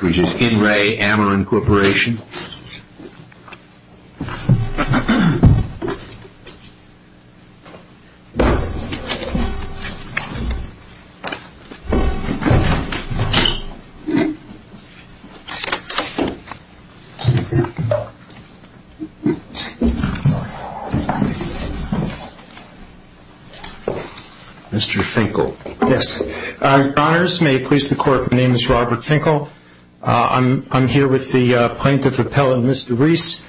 Which is In Re Amarin Corporation. Mr. Finkel. Yes. Honors. May it please the court, my name is Robert Finkel. I'm here with the Plaintiff Appellant, Mr. Reese.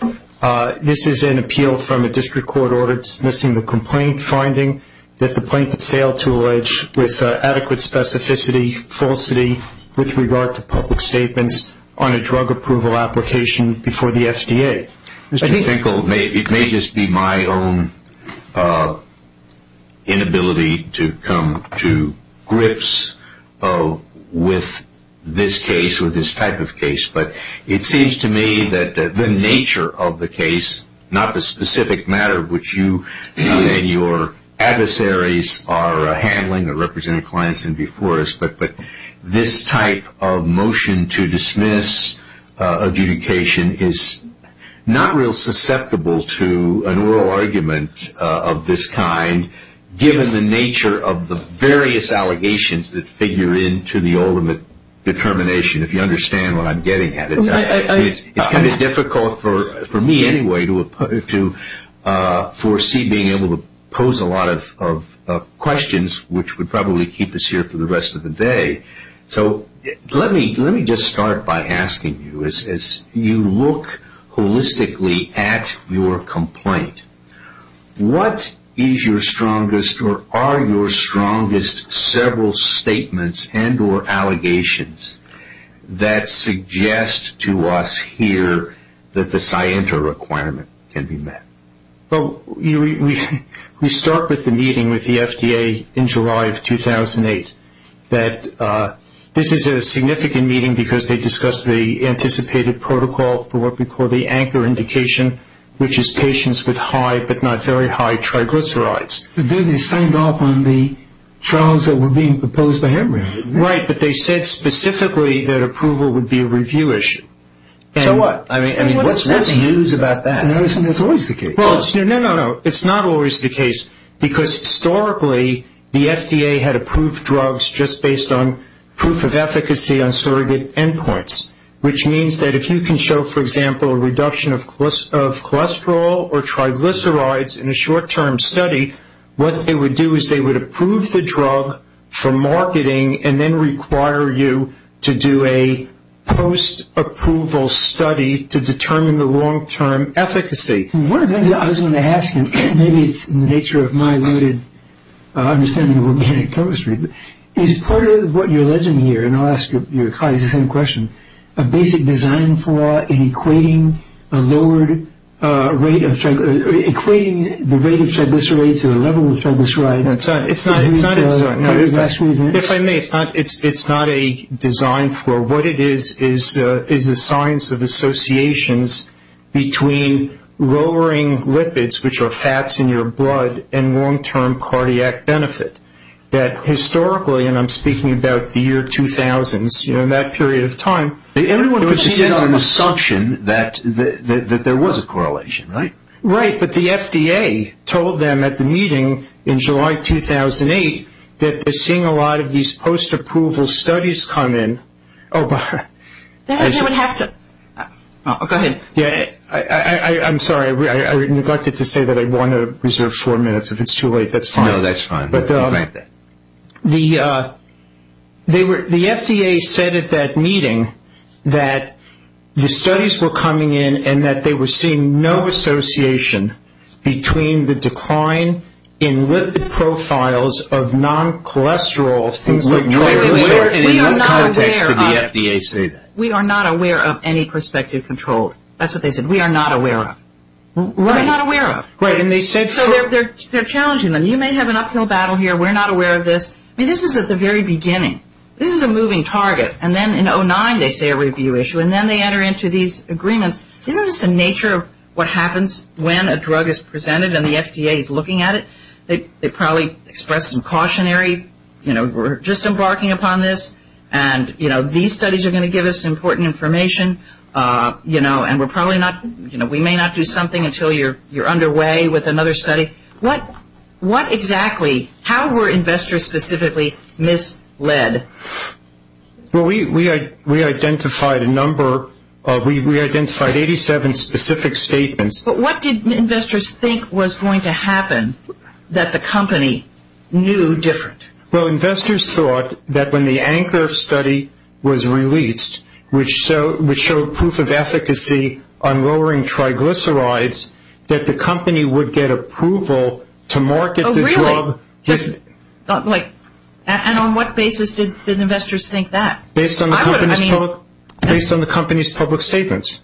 This is an appeal from a district court order dismissing the complaint, finding that the plaintiff failed to allege with adequate specificity, falsity with regard to public statements on a drug approval application before the FDA. Mr. Finkel, it may just be my own inability to come to grips with this case or this type of case, but it seems to me that the nature of the case, not the specific matter which you and your adversaries are handling or representing clients in before us, but this type of motion to dismiss adjudication is not real susceptible to an oral argument of this kind, given the nature of the various allegations that figure into the ultimate determination, if you understand what I'm getting at. It's kind of difficult for me anyway to foresee being able to pose a lot of questions, which would probably keep us here for the rest of the day. So let me just start by asking you, as you look holistically at your complaint, what is your strongest or are your strongest several statements and or allegations that suggest to us here that the scienter requirement can be met? Well, we start with the meeting with the FDA in July of 2008. This is a significant meeting because they discussed the anticipated protocol for what we call the anchor indication, which is patients with high but not very high triglycerides. They signed off on the trials that were being proposed by Hemring, didn't they? Right, but they said specifically that approval would be a review issue. So what? I mean, what's news about that? That's always the case. No, no, no. It's not always the case because, historically, the FDA had approved drugs just based on proof of efficacy on surrogate endpoints, which means that if you can show, for example, a reduction of cholesterol or triglycerides in a short-term study, what they would do is they would approve the drug for marketing and then require you to do a post-approval study to determine the long-term efficacy. One of the things I was going to ask you, and maybe it's in the nature of my limited understanding of organic chemistry, is part of what you're alleging here, and I'll ask your colleagues the same question, a basic design for equating the rate of triglycerides to the level of triglycerides. It's not. If I may, it's not a design for. What it is is a science of associations between lowering lipids, which are fats in your blood, and long-term cardiac benefit, that historically, and I'm speaking about the year 2000s, you know, that period of time. Everyone puts it on an assumption that there was a correlation, right? Right, but the FDA told them at the meeting in July 2008 that they're seeing a lot of these post-approval studies come in. Oh, go ahead. I'm sorry. I neglected to say that I want to reserve four minutes. If it's too late, that's fine. No, that's fine. The FDA said at that meeting that the studies were coming in and that they were seeing no association between the decline in lipid profiles of non-cholesterol things like triglycerides. We are not aware of any prospective control. That's what they said. We are not aware of. Right. We're not aware of. Right, and they said for. So they're challenging them. You may have an uphill battle here. We're not aware of this. I mean, this is at the very beginning. This is a moving target, and then in 2009 they say a review issue, and then they enter into these agreements. Isn't this the nature of what happens when a drug is presented and the FDA is looking at it? They probably express some cautionary, you know, we're just embarking upon this, and, you know, these studies are going to give us important information, you know, and we're probably not, you know, we may not do something until you're underway with another study. What exactly, how were investors specifically misled? Well, we identified a number. We identified 87 specific statements. But what did investors think was going to happen that the company knew different? Well, investors thought that when the Anchor study was released, which showed proof of efficacy on lowering triglycerides, that the company would get approval to market the drug. Oh, really? And on what basis did investors think that? Based on the company's public statements.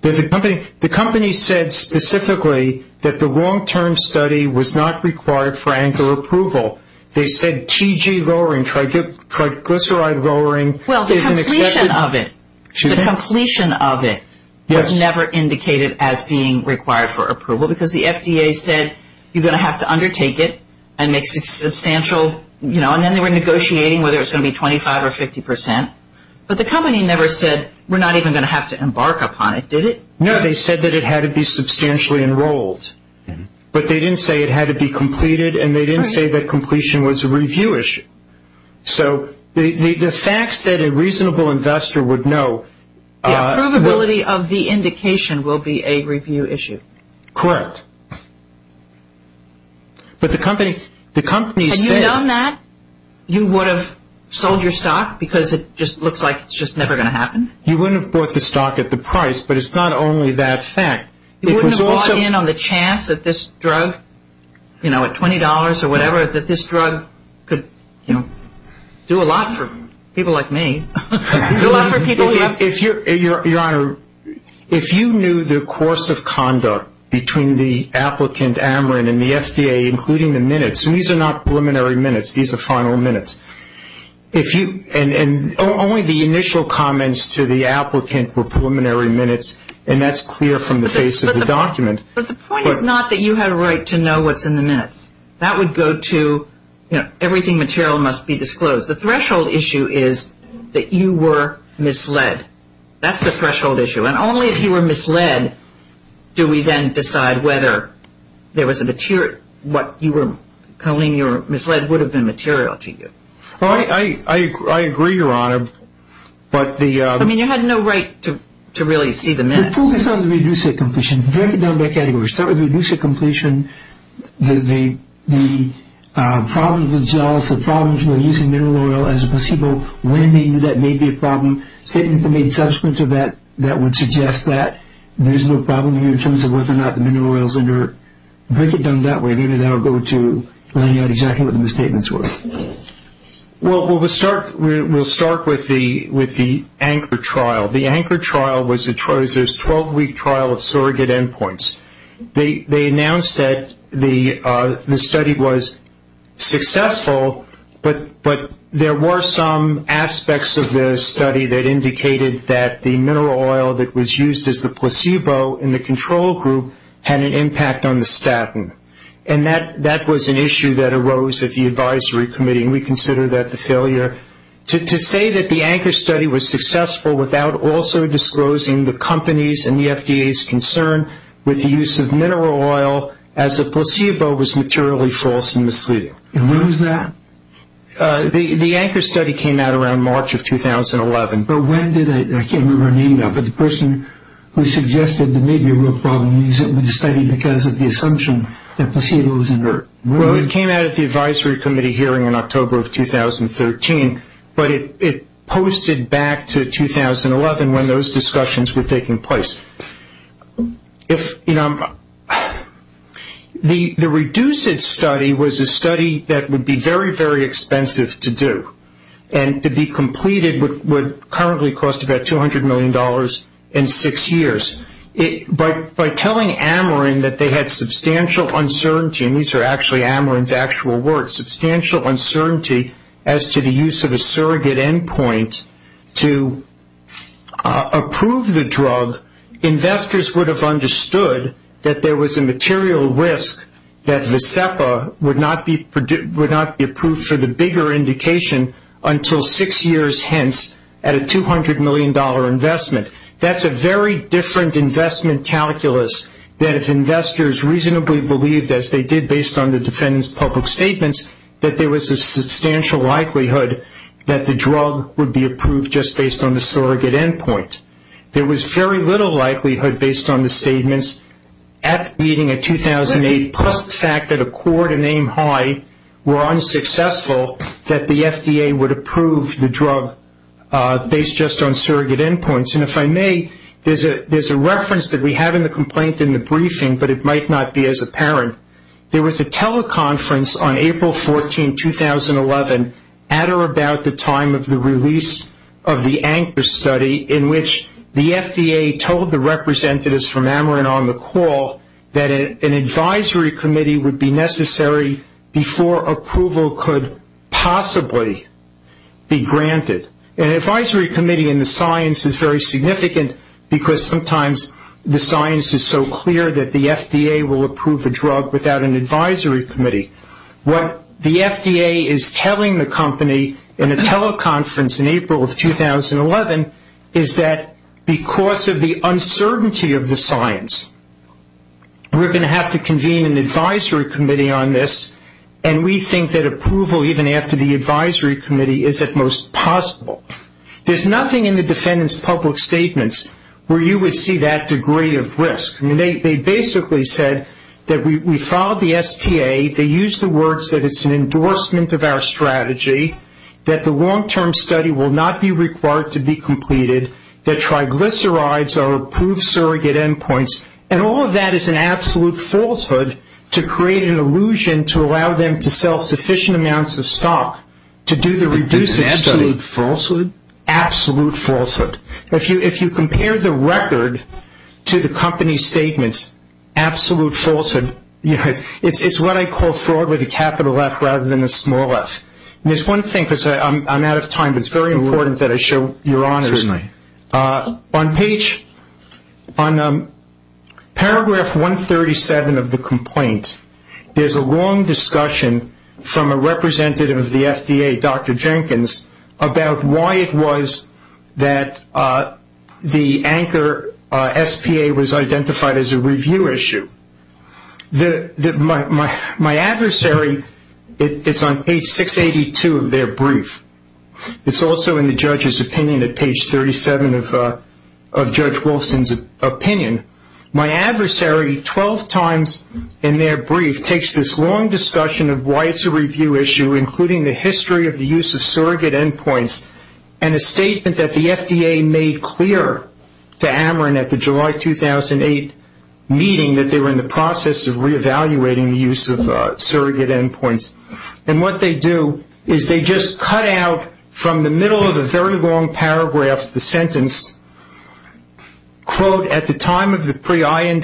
The company said specifically that the long-term study was not required for Anchor approval. They said TG lowering, triglyceride lowering. Well, the completion of it was never indicated as being required for approval, because the FDA said you're going to have to undertake it and make substantial, you know, and then they were negotiating whether it was going to be 25 or 50 percent. But the company never said we're not even going to have to embark upon it, did it? No, they said that it had to be substantially enrolled. But they didn't say it had to be completed, and they didn't say that completion was a review issue. So the facts that a reasonable investor would know. The approvability of the indication will be a review issue. Correct. But the company said. Had you done that, you would have sold your stock because it just looks like it's just never going to happen? You wouldn't have bought the stock at the price, but it's not only that fact. You wouldn't have bought in on the chance that this drug, you know, at $20 or whatever, that this drug could, you know, do a lot for people like me. Your Honor, if you knew the course of conduct between the applicant, Ameren, and the FDA, including the minutes, and these are not preliminary minutes, these are final minutes, and only the initial comments to the applicant were preliminary minutes, and that's clear from the face of the document. But the point is not that you had a right to know what's in the minutes. That would go to, you know, everything material must be disclosed. The threshold issue is that you were misled. That's the threshold issue. And only if you were misled do we then decide whether there was a material, what you were calling your misled would have been material to you. I agree, Your Honor, but the... I mean, you had no right to really see the minutes. We focused on the reduced hit completion. Break it down by categories. Start with reduced hit completion, the problem with gels, the problems with using mineral oil as a placebo, when that may be a problem, statements that made subsequent to that that would suggest that. There's no problem here in terms of whether or not the mineral oil is under... Break it down that way. Maybe that will go to laying out exactly what the misstatements were. Well, we'll start with the anchor trial. The anchor trial was a 12-week trial of surrogate endpoints. They announced that the study was successful, but there were some aspects of the study that indicated that the mineral oil that was used as the placebo in the control group had an impact on the statin, and that was an issue that arose at the advisory committee, and we consider that the failure. To say that the anchor study was successful without also disclosing the company's and the FDA's concern with the use of mineral oil as a placebo was materially false and misleading. And when was that? The anchor study came out around March of 2011. But when did it? I can't remember a name now, but the person who suggested there may be a real problem means it was a study because of the assumption that placebo was under. Well, it came out at the advisory committee hearing in October of 2013, but it posted back to 2011 when those discussions were taking place. The reduced study was a study that would be very, very expensive to do, and to be completed would currently cost about $200 million in six years. By telling Ameren that they had substantial uncertainty, and these are actually Ameren's actual words, substantial uncertainty as to the use of a surrogate endpoint to approve the drug, investors would have understood that there was a material risk that VSEPA would not be approved for the bigger indication until six years hence at a $200 million investment. That's a very different investment calculus than if investors reasonably believed, as they did based on the defendant's public statements, that there was a substantial likelihood that the drug would be approved just based on the surrogate endpoint. There was very little likelihood based on the statements at the meeting in 2008, plus the fact that Accord and Aim High were unsuccessful, that the FDA would approve the drug based just on surrogate endpoints. And if I may, there's a reference that we have in the complaint in the briefing, but it might not be as apparent. There was a teleconference on April 14, 2011, at or about the time of the release of the Anchor Study, in which the FDA told the representatives from Ameren on the call that an advisory committee would be necessary before approval could possibly be granted. An advisory committee in the science is very significant, because sometimes the science is so clear that the FDA will approve a drug without an advisory committee. What the FDA is telling the company in a teleconference in April of 2011 is that because of the uncertainty of the science, we're going to have to convene an advisory committee on this, and we think that approval, even after the advisory committee, is at most possible. There's nothing in the defendant's public statements where you would see that degree of risk. They basically said that we filed the SPA, they used the words that it's an endorsement of our strategy, that the long-term study will not be required to be completed, that triglycerides are approved surrogate endpoints, and all of that is an absolute falsehood to create an illusion to allow them to sell sufficient amounts of stock to do the reduced study. It's an absolute falsehood? Absolute falsehood. If you compare the record to the company's statements, absolute falsehood, it's what I call fraud with a capital F rather than a small f. There's one thing, because I'm out of time, but it's very important that I show your honors. Certainly. On paragraph 137 of the complaint, there's a long discussion from a representative of the FDA, Dr. Jenkins, about why it was that the anchor SPA was identified as a review issue. My adversary is on page 682 of their brief. It's also in the judge's opinion at page 37 of Judge Wolfson's opinion. My adversary, 12 times in their brief, takes this long discussion of why it's a review issue, including the history of the use of surrogate endpoints, and a statement that the FDA made clear to Ameren at the July 2008 meeting that they were in the process of reevaluating the use of surrogate endpoints. And what they do is they just cut out from the middle of a very long paragraph the sentence, quote, at the time of the pre-IND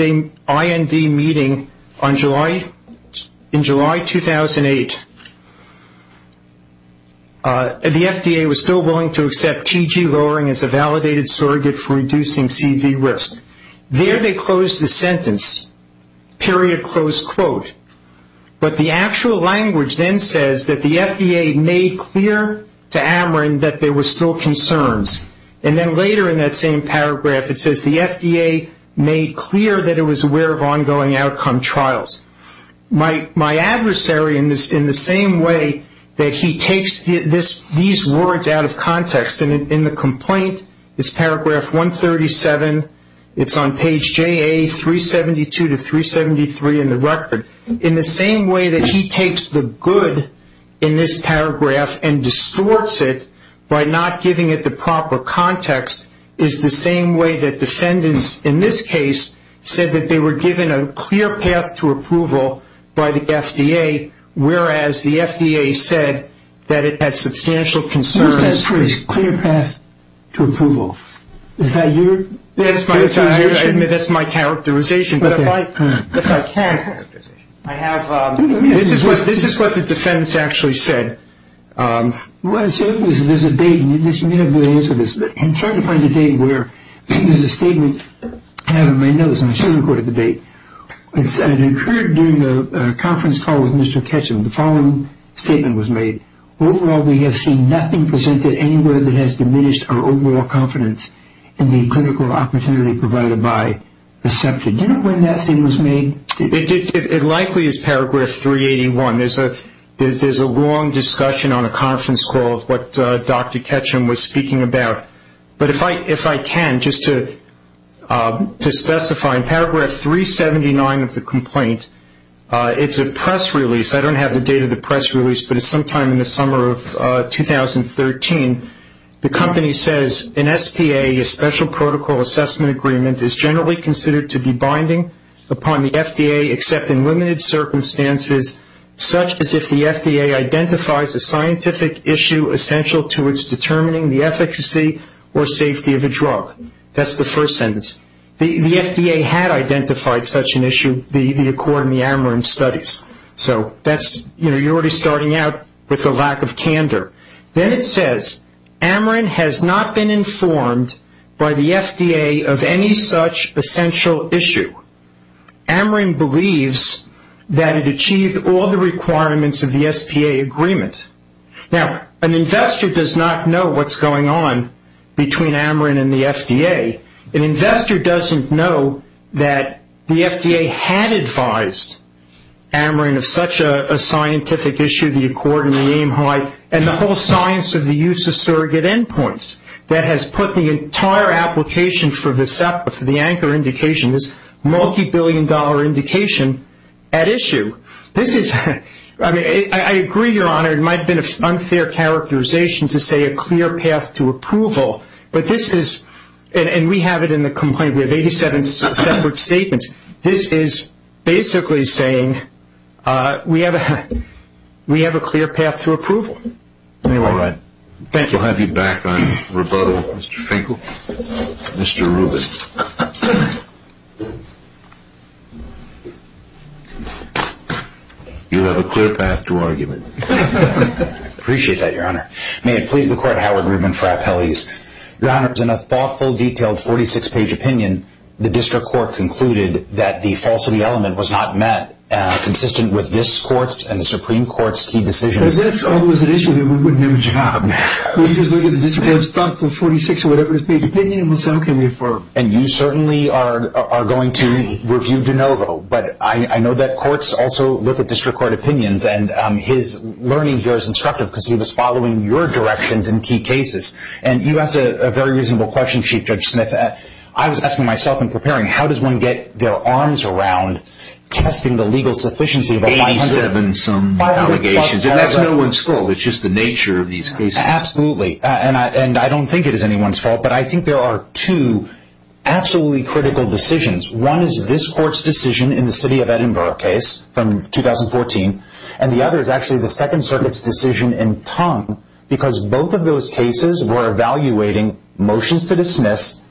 meeting in July 2008, the FDA was still willing to accept TG lowering as a validated surrogate for reducing CV risk. There they close the sentence, period, close quote. But the actual language then says that the FDA made clear to Ameren that there were still concerns. And then later in that same paragraph it says the FDA made clear that it was aware of ongoing outcome trials. My adversary, in the same way that he takes these words out of context, in the complaint, it's paragraph 137, it's on page JA 372 to 373 in the record, in the same way that he takes the good in this paragraph and distorts it by not giving it the proper context, is the same way that defendants in this case said that they were given a clear path to approval by the FDA, whereas the FDA said that it had substantial concerns. You said clear path to approval. Is that your characterization? I admit that's my characterization, but if I can, this is what the defendants actually said. What I'm saying is there's a date, and you may not be able to answer this, but I'm trying to find a date where there's a statement, and I have it on my notes, and I should have recorded the date. It occurred during a conference call with Mr. Ketchum, the following statement was made. Overall, we have seen nothing presented anywhere that has diminished our overall confidence in the clinical opportunity provided by reception. Do you know when that statement was made? It likely is paragraph 381. There's a long discussion on a conference call of what Dr. Ketchum was speaking about. But if I can, just to specify, in paragraph 379 of the complaint, it's a press release. I don't have the date of the press release, but it's sometime in the summer of 2013. The company says, An SPA, a special protocol assessment agreement, is generally considered to be binding upon the FDA, except in limited circumstances, such as if the FDA identifies a scientific issue essential to its determining the efficacy or safety of a drug. That's the first sentence. The FDA had identified such an issue, the accord in the Ameren studies. So that's, you know, you're already starting out with a lack of candor. Then it says, Ameren has not been informed by the FDA of any such essential issue. Ameren believes that it achieved all the requirements of the SPA agreement. Now, an investor does not know what's going on between Ameren and the FDA. An investor doesn't know that the FDA had advised Ameren of such a scientific issue, the accord and the aim high, and the whole science of the use of surrogate endpoints. That has put the entire application for the SEPA, for the anchor indication, this multi-billion dollar indication, at issue. This is, I mean, I agree, Your Honor, it might have been an unfair characterization to say a clear path to approval. But this is, and we have it in the complaint, we have 87 separate statements. This is basically saying we have a clear path to approval. All right. Thank you. We'll have you back on rebuttal, Mr. Finkel. Mr. Rubin. You have a clear path to argument. I appreciate that, Your Honor. May it please the Court, Howard Rubin for Appellees. Your Honor, in a thoughtful, detailed, 46-page opinion, the District Court concluded that the falsity element was not met, consistent with this Court's and the Supreme Court's key decisions. Because that's always an issue that we wouldn't have a job. We just look at the District Court's thoughtful, 46-page opinion, and some can be affirmed. And you certainly are going to review DeNovo. But I know that courts also look at District Court opinions, and his learning here is instructive because he was following your directions in key cases. And you asked a very reasonable question, Chief Judge Smith. I was asking myself in preparing, how does one get their arms around testing the legal sufficiency of a 500- 87-some allegations. And that's no one's fault. It's just the nature of these cases. Absolutely. And I don't think it is anyone's fault. But I think there are two absolutely critical decisions. One is this Court's decision in the City of Edinburgh case from 2014. And the other is actually the Second Circuit's decision in Tong. Because both of those cases were evaluating motions to dismiss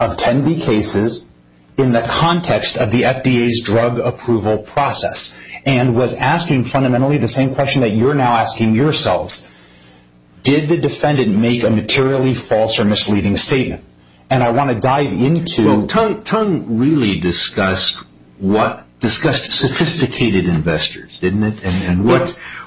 of 10B cases in the context of the FDA's drug approval process. And was asking fundamentally the same question that you're now asking yourselves. Did the defendant make a materially false or misleading statement? And I want to dive into- Well, Tong really discussed sophisticated investors, didn't it? And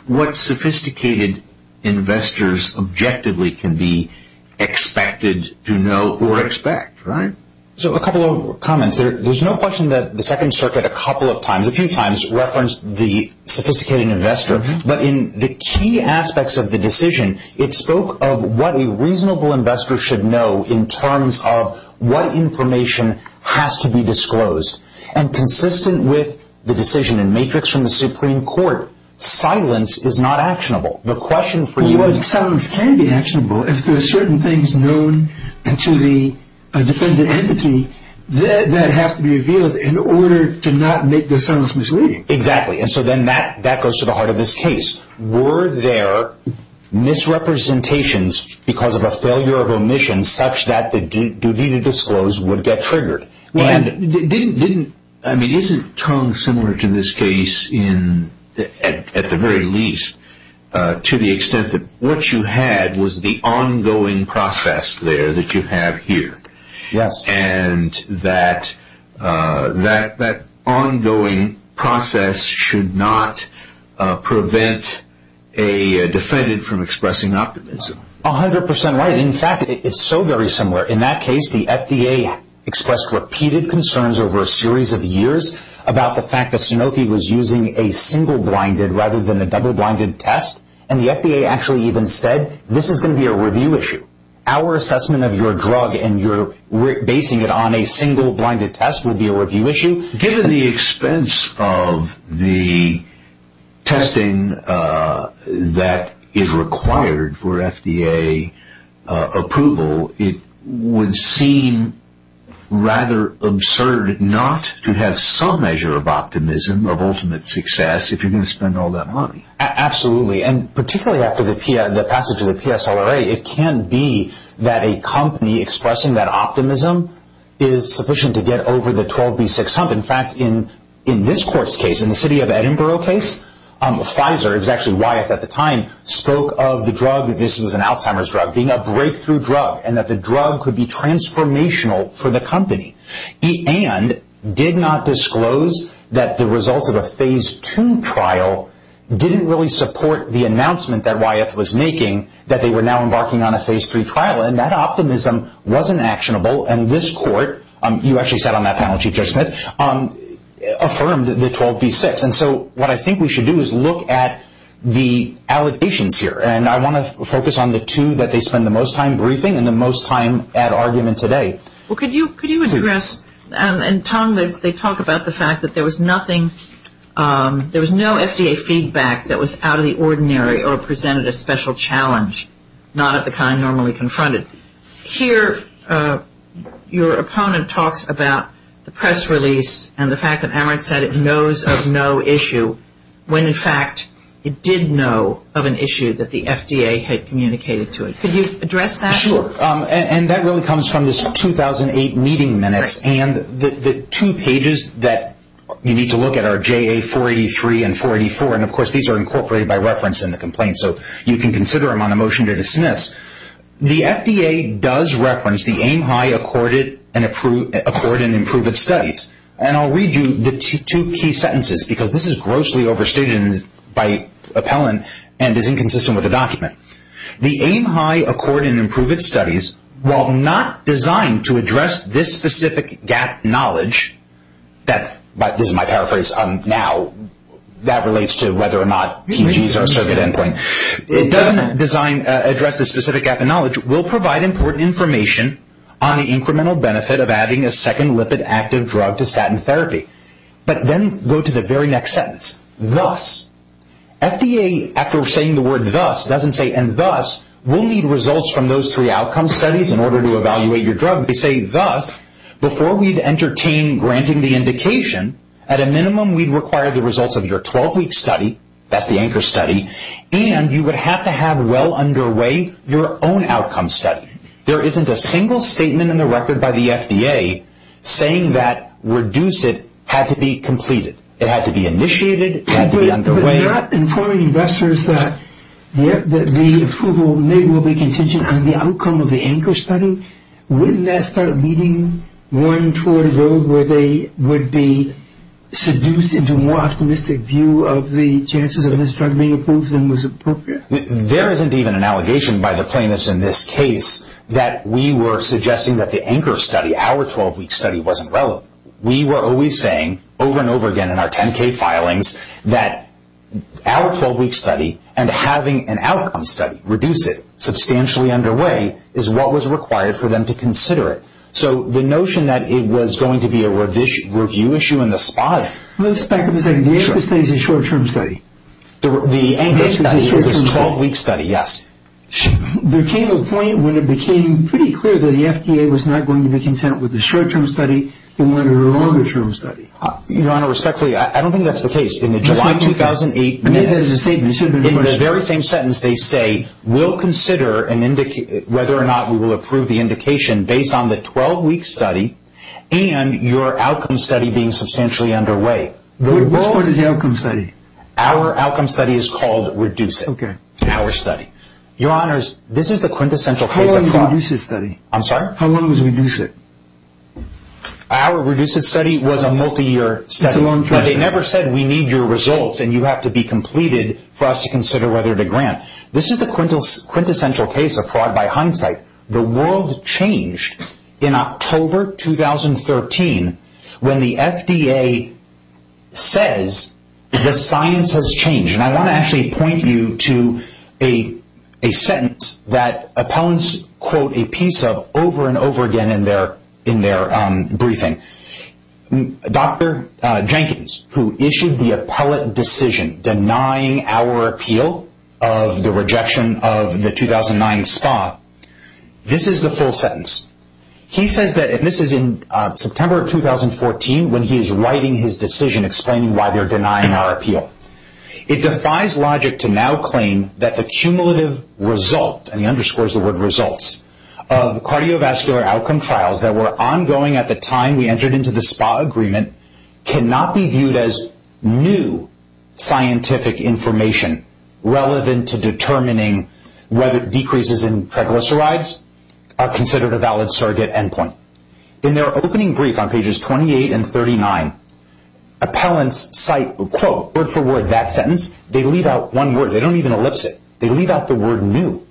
what sophisticated investors objectively can be expected to know or expect, right? So a couple of comments. There's no question that the Second Circuit a couple of times, a few times, referenced the sophisticated investor. But in the key aspects of the decision, it spoke of what a reasonable investor should know in terms of what information has to be disclosed. And consistent with the decision in Matrix from the Supreme Court, silence is not actionable. The question for you is- Well, silence can be actionable if there are certain things known to the defendant entity that have to be revealed in order to not make the silence misleading. Exactly. And so then that goes to the heart of this case. Were there misrepresentations because of a failure of omission such that the duty to disclose would get triggered? Well, I mean, isn't Tong similar to this case at the very least to the extent that what you had was the ongoing process there that you have here? Yes. And that ongoing process should not prevent a defendant from expressing optimism. 100% right. In fact, it's so very similar. In that case, the FDA expressed repeated concerns over a series of years about the fact that Sanofi was using a single-blinded rather than a double-blinded test. And the FDA actually even said, this is going to be a review issue. Our assessment of your drug and your basing it on a single-blinded test will be a review issue. Given the expense of the testing that is required for FDA approval, it would seem rather absurd not to have some measure of optimism of ultimate success if you're going to spend all that money. Absolutely. And particularly after the passage of the PSLRA, it can be that a company expressing that optimism is sufficient to get over the 12B6 hump. In fact, in this court's case, in the city of Edinburgh case, Pfizer, it was actually Wyeth at the time, spoke of the drug, this was an Alzheimer's drug, being a breakthrough drug and that the drug could be transformational for the company. And did not disclose that the results of a Phase II trial didn't really support the announcement that Wyeth was making that they were now embarking on a Phase III trial. And that optimism wasn't actionable. And this court, you actually sat on that panel, Chief Judge Smith, affirmed the 12B6. And so what I think we should do is look at the allegations here. And I want to focus on the two that they spend the most time briefing and the most time at argument today. Well, could you address, and Tom, they talk about the fact that there was nothing, there was no FDA feedback that was out of the ordinary or presented a special challenge, not of the kind normally confronted. Here, your opponent talks about the press release and the fact that Amrit said it knows of no issue, when in fact it did know of an issue that the FDA had communicated to it. Could you address that? Sure. And that really comes from this 2008 meeting minutes. And the two pages that you need to look at are JA483 and 484. And, of course, these are incorporated by reference in the complaint. So you can consider them on a motion to dismiss. The FDA does reference the Aim High, Accord, and Improve It studies. And I'll read you the two key sentences, because this is grossly overstated by appellant and is inconsistent with the document. The Aim High, Accord, and Improve It studies, while not designed to address this specific gap in knowledge, this is my paraphrase now, that relates to whether or not TGs are a circuit end point, it doesn't address this specific gap in knowledge, will provide important information on the incremental benefit of adding a second lipid active drug to statin therapy. But then go to the very next sentence, thus. FDA, after saying the word thus, doesn't say, and thus, we'll need results from those three outcome studies in order to evaluate your drug. They say, thus, before we'd entertain granting the indication, at a minimum we'd require the results of your 12-week study, that's the anchor study, and you would have to have well underway your own outcome study. There isn't a single statement in the record by the FDA saying that reduce it had to be completed. It had to be initiated, it had to be underway. But you're not informing investors that the approval may well be contingent on the outcome of the anchor study. Wouldn't that start leading one toward a road where they would be seduced into a more optimistic view of the chances of this drug being approved than was appropriate? There isn't even an allegation by the plaintiffs in this case that we were suggesting that the anchor study, our 12-week study, wasn't relevant. We were always saying, over and over again in our 10-K filings, that our 12-week study and having an outcome study, reduce it, substantially underway, is what was required for them to consider it. So the notion that it was going to be a review issue in the spas... Let's back up a second. The anchor study is a short-term study. The anchor study is a 12-week study, yes. There came a point when it became pretty clear that the FDA was not going to be content with the short-term study and wanted a longer-term study. Your Honor, respectfully, I don't think that's the case. In the July 2008 minutes, in the very same sentence, they say, we'll consider whether or not we will approve the indication based on the 12-week study and your outcome study being substantially underway. What is the outcome study? Our outcome study is called reduce it. Okay. Our study. Your Honors, this is the quintessential case of fraud. How long is the reduce it study? I'm sorry? How long is reduce it? Our reduce it study was a multi-year study. But they never said we need your results and you have to be completed for us to consider whether to grant. This is the quintessential case of fraud by hindsight. The world changed in October 2013 when the FDA says the science has changed. I want to actually point you to a sentence that appellants quote a piece of over and over again in their briefing. Dr. Jenkins, who issued the appellate decision denying our appeal of the rejection of the 2009 STA, this is the full sentence. He says that this is in September 2014 when he is writing his decision explaining why they're denying our appeal. It defies logic to now claim that the cumulative result, and he underscores the word results, of cardiovascular outcome trials that were ongoing at the time we entered into the SPA agreement cannot be viewed as new scientific information relevant to determining whether decreases in triglycerides are considered a valid surrogate endpoint. In their opening brief on pages 28 and 39, appellants cite, quote, word for word that sentence. They leave out one word. They don't even ellipse it. They leave out the word new.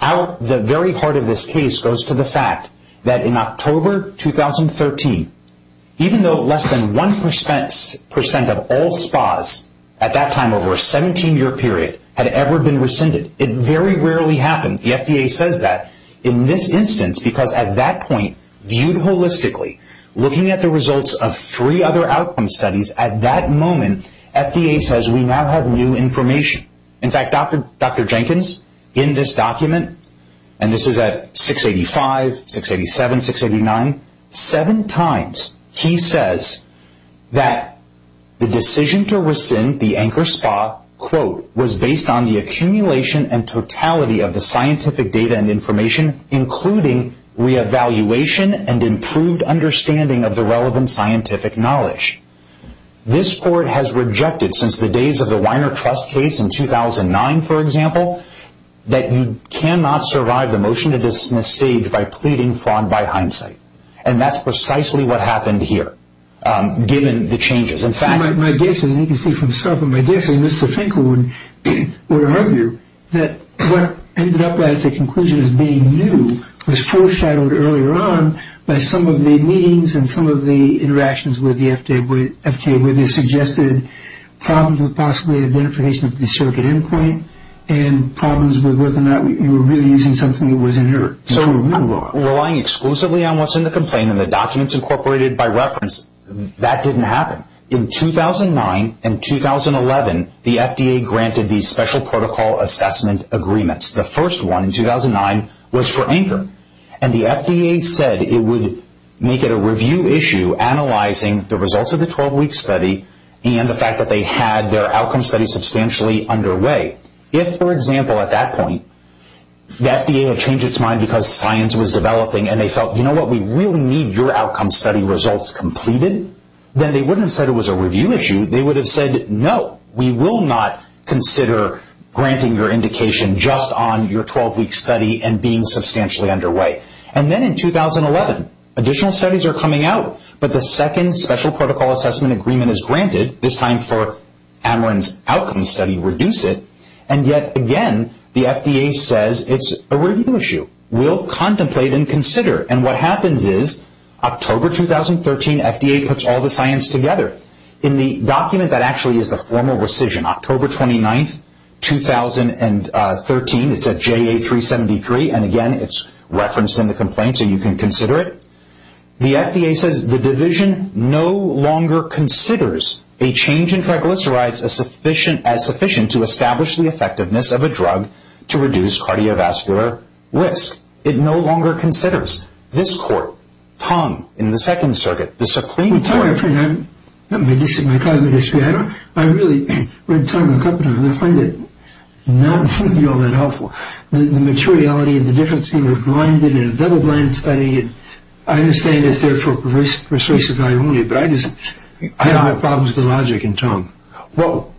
The very heart of this case goes to the fact that in October 2013, even though less than 1% of all SPAs at that time over a 17-year period had ever been rescinded, it very rarely happens. The FDA says that in this instance because at that point, viewed holistically, looking at the results of three other outcome studies, at that moment, FDA says we now have new information. In fact, Dr. Jenkins, in this document, and this is at 685, 687, 689, seven times he says that the decision to rescind the Anchor SPA, quote, was based on the accumulation and totality of the scientific data and information, including re-evaluation and improved understanding of the relevant scientific knowledge. This court has rejected since the days of the Weiner Trust case in 2009, for example, that you cannot survive the motion to dismiss stage by pleading fraud by hindsight, and that's precisely what happened here, given the changes. In fact, my guess is, and you can see from the stuff, but my guess is Mr. Finkel would argue that what ended up as the conclusion of being new was foreshadowed earlier on by some of the meetings and some of the interactions with the FDA where they suggested problems with possibly identification of the circuit endpoint and problems with whether or not you were really using something that was inert. So relying exclusively on what's in the complaint and the documents incorporated by reference, that didn't happen. In 2009 and 2011, the FDA granted these special protocol assessment agreements. The first one, in 2009, was for Anchor, and the FDA said it would make it a review issue analyzing the results of the 12-week study and the fact that they had their outcome study substantially underway. If, for example, at that point, the FDA had changed its mind because science was developing and they felt, you know what, we really need your outcome study results completed, then they wouldn't have said it was a review issue. They would have said, no, we will not consider granting your indication just on your 12-week study and being substantially underway. And then in 2011, additional studies are coming out, but the second special protocol assessment agreement is granted, this time for Ameren's outcome study, reduce it. And yet again, the FDA says it's a review issue. We'll contemplate and consider. And what happens is, October 2013, FDA puts all the science together. In the document, that actually is the formal rescission. In October 29, 2013, it's at JA-373, and again, it's referenced in the complaint so you can consider it. The FDA says the division no longer considers a change in triglycerides as sufficient to establish the effectiveness of a drug to reduce cardiovascular risk. It no longer considers. This court, Tong in the Second Circuit, the Supreme Court... I really read Tong in the company, and I find it not to be all that helpful. The materiality and the difference between a blinded and a double-blinded study, I understand it's there for persuasive value only, but I just have problems with the logic in Tong. Well,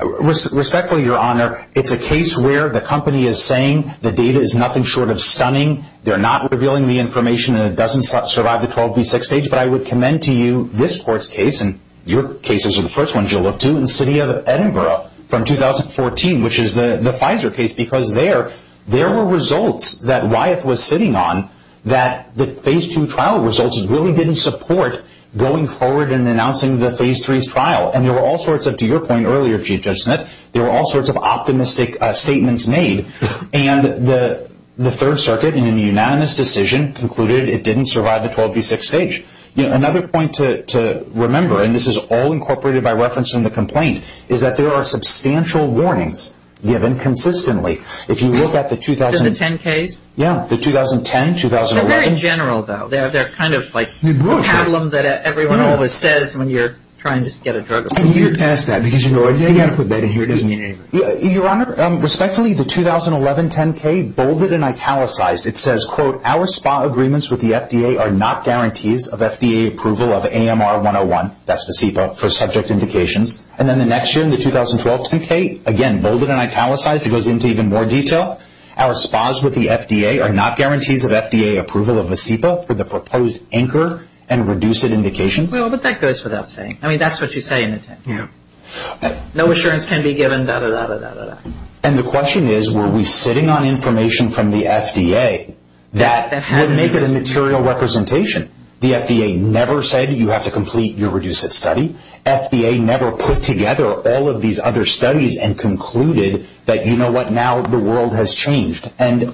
respectfully, Your Honor, it's a case where the company is saying the data is nothing short of stunning. They're not revealing the information, and it doesn't survive the 12-week stage. But I would commend to you this court's case, and your cases are the first ones you'll look to, in the city of Edinburgh from 2014, which is the Pfizer case, because there were results that Wyeth was sitting on that the Phase II trial results really didn't support going forward and announcing the Phase III's trial. And there were all sorts of, to your point earlier, Chief Judge Smith, there were all sorts of optimistic statements made. And the Third Circuit, in a unanimous decision, concluded it didn't survive the 12-week stage. Another point to remember, and this is all incorporated by reference in the complaint, is that there are substantial warnings given consistently. If you look at the 2010 case... Yeah, the 2010, 2011... They're very general, though. They're kind of like a pabulum that everyone always says when you're trying to get a drug approved. I'm a year past that, because you know I didn't put that in here. Your Honor, respectfully, the 2011 10-K, bolded and italicized. It says, quote, Our SPA agreements with the FDA are not guarantees of FDA approval of AMR-101, that's Vasepa, for subject indications. And then the next year, in the 2012 10-K, again, bolded and italicized. It goes into even more detail. Our SPAs with the FDA are not guarantees of FDA approval of Vasepa for the proposed Anchor and Reduce-It indications. Well, but that goes without saying. I mean, that's what you say in the 10-K. No assurance can be given, da-da-da-da-da-da. And the question is, were we sitting on information from the FDA that would make it a material representation? The FDA never said you have to complete your Reduce-It study. FDA never put together all of these other studies and concluded that you know what, now the world has changed. And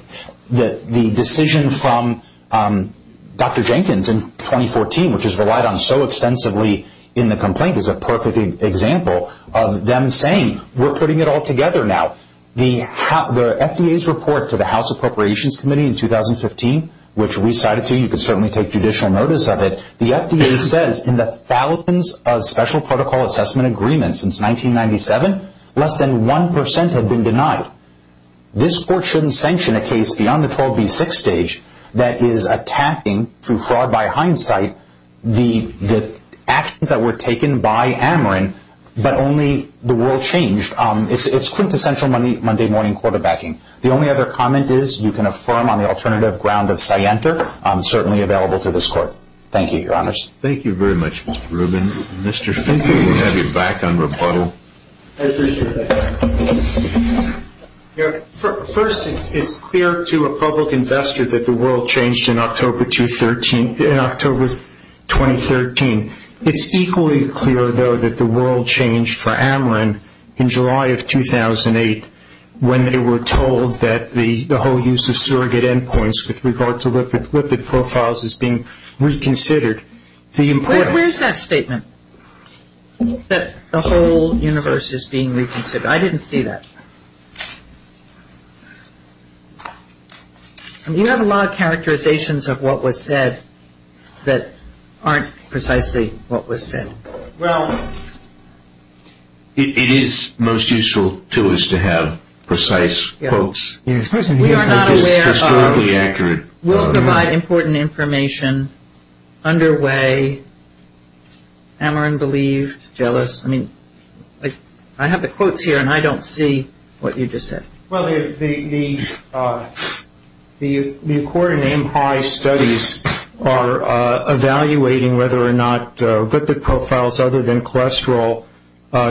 the decision from Dr. Jenkins in 2014, which is relied on so extensively in the complaint, is a perfect example of them saying, we're putting it all together now. The FDA's report to the House Appropriations Committee in 2015, which we cited to you, you can certainly take judicial notice of it, the FDA says in the thousands of special protocol assessment agreements since 1997, less than 1% have been denied. This court shouldn't sanction a case beyond the 12B6 stage that is attacking, through fraud by hindsight, the actions that were taken by Ameren, but only the world changed. It's quintessential Monday-morning quarterbacking. The only other comment is you can affirm on the alternative ground of Scienter, certainly available to this court. Thank you, Your Honors. Thank you very much, Mr. Rubin. Mr. Finkel, you have your back on rebuttal. I appreciate that. First, it's clear to a public investor that the world changed in October 2013. It's equally clear, though, that the world changed for Ameren in July of 2008 when they were told that the whole use of surrogate endpoints with regard to lipid profiles is being reconsidered. Where is that statement, that the whole universe is being reconsidered? I didn't see that. You have a lot of characterizations of what was said that aren't precisely what was said. Well, it is most useful to us to have precise quotes. We are not aware of. We'll provide important information underway. Ameren believed, jealous. I mean, I have the quotes here, and I don't see what you just said. Well, the Accord and Aim High studies are evaluating whether or not lipid profiles other than cholesterol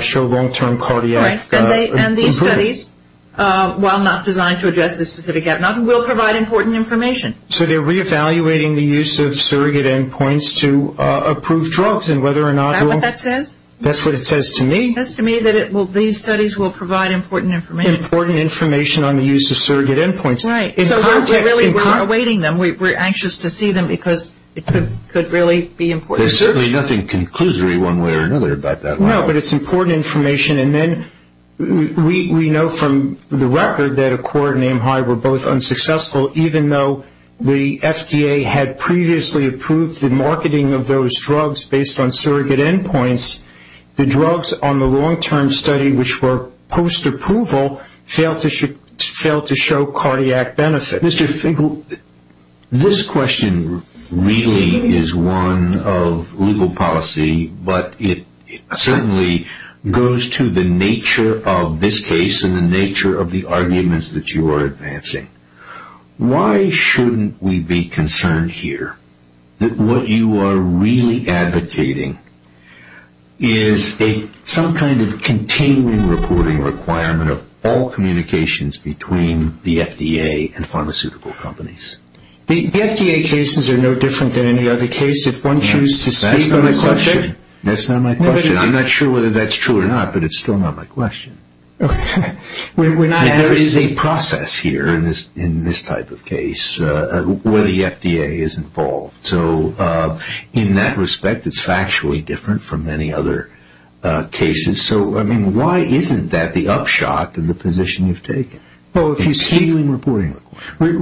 show long-term cardiac improvement. And these studies, while not designed to address this specific gap, will provide important information. So they're reevaluating the use of surrogate endpoints to approve drugs. Is that what that says? That's what it says to me. It says to me that these studies will provide important information. Important information on the use of surrogate endpoints. Right. So we're really awaiting them. We're anxious to see them because it could really be important. There's certainly nothing conclusory one way or another about that. No, but it's important information. And then we know from the record that Accord and Aim High were both unsuccessful, even though the FDA had previously approved the marketing of those drugs based on surrogate endpoints. The drugs on the long-term study, which were post-approval, failed to show cardiac benefit. Mr. Finkel, this question really is one of legal policy, but it certainly goes to the nature of this case and the nature of the arguments that you are advancing. Why shouldn't we be concerned here that what you are really advocating is some kind of continuing reporting requirement of all communications between the FDA and pharmaceutical companies? The FDA cases are no different than any other case. That's not my question. I'm not sure whether that's true or not, but it's still not my question. There is a process here in this type of case where the FDA is involved. So in that respect, it's factually different from any other cases. So, I mean, why isn't that the upshot in the position you've taken? Oh, if you speak to the reporting requirement.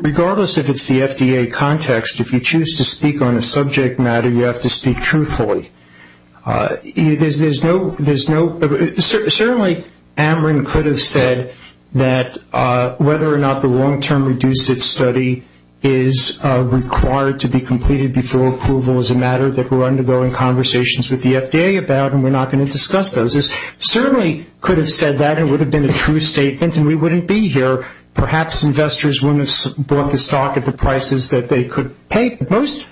If you choose to speak on a subject matter, you have to speak truthfully. Certainly, Amrin could have said that whether or not the long-term reduced study is required to be completed before approval is a matter that we're undergoing conversations with the FDA about, and we're not going to discuss those. He certainly could have said that, and it would have been a true statement, and we wouldn't be here. Perhaps investors wouldn't have bought the stock at the prices that they could pay. Most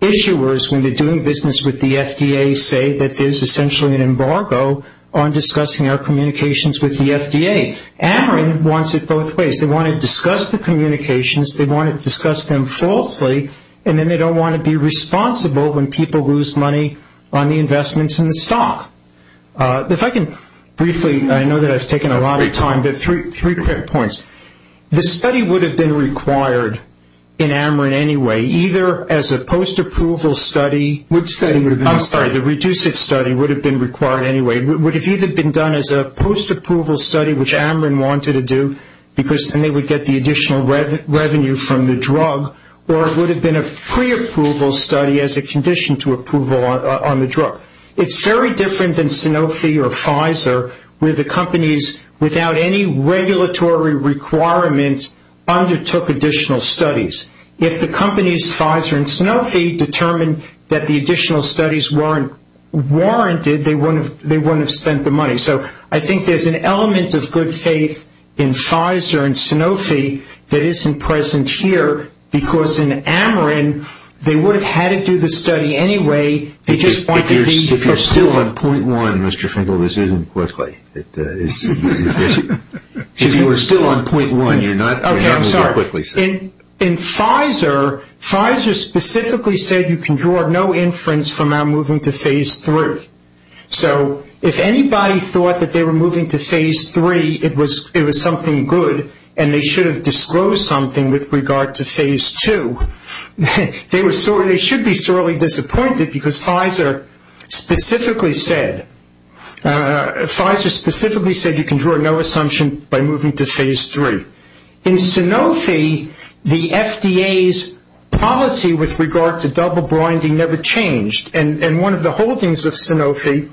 issuers, when they're doing business with the FDA, say that there's essentially an embargo on discussing our communications with the FDA. Amrin wants it both ways. They want to discuss the communications, they want to discuss them falsely, and then they don't want to be responsible when people lose money on the investments in the stock. If I can briefly, I know that I've taken a lot of time, but three quick points. The study would have been required in Amrin anyway, either as a post-approval study. Which study? I'm sorry, the reduced study would have been required anyway. It would have either been done as a post-approval study, which Amrin wanted to do, and they would get the additional revenue from the drug, or it would have been a pre-approval study as a condition to approval on the drug. It's very different than Sanofi or Pfizer, where the companies, without any regulatory requirements, undertook additional studies. If the companies, Pfizer and Sanofi, determined that the additional studies weren't warranted, they wouldn't have spent the money. So I think there's an element of good faith in Pfizer and Sanofi that isn't present here, because in Amrin they would have had to do the study anyway. If you're still on point one, Mr. Finkel, this isn't quickly. If you were still on point one, you're not moving quickly. Okay, I'm sorry. In Pfizer, Pfizer specifically said you can draw no inference from our moving to phase three. So if anybody thought that they were moving to phase three, it was something good, and they should have disclosed something with regard to phase two. They should be sorely disappointed, because Pfizer specifically said you can draw no assumption by moving to phase three. In Sanofi, the FDA's policy with regard to double blinding never changed, and one of the holdings of Sanofi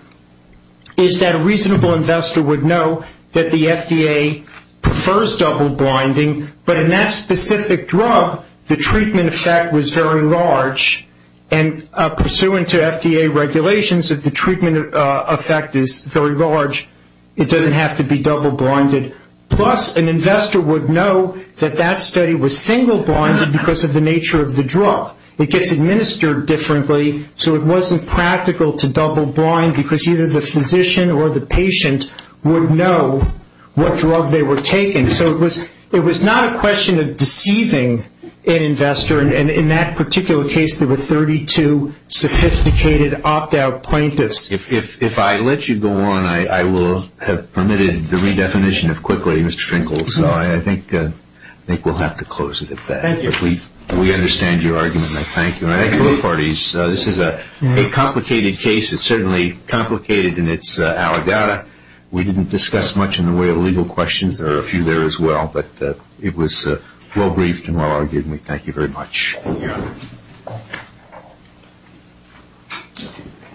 is that a reasonable investor would know that the FDA prefers double blinding, but in that specific drug, the treatment effect was very large, and pursuant to FDA regulations, if the treatment effect is very large, it doesn't have to be double blinded. Plus, an investor would know that that study was single blinded because of the nature of the drug. It gets administered differently, so it wasn't practical to double blind, because either the physician or the patient would know what drug they were taking. So it was not a question of deceiving an investor, and in that particular case, there were 32 sophisticated opt-out plaintiffs. If I let you go on, I will have permitted the redefinition of quickly, Mr. Finkel. So I think we'll have to close it at that. Thank you. We understand your argument, and I thank you. I think both parties, this is a complicated case. It's certainly complicated in its allegata. We didn't discuss much in the way of legal questions. There are a few there as well, but it was well briefed and well argued, and we thank you very much. Thank you.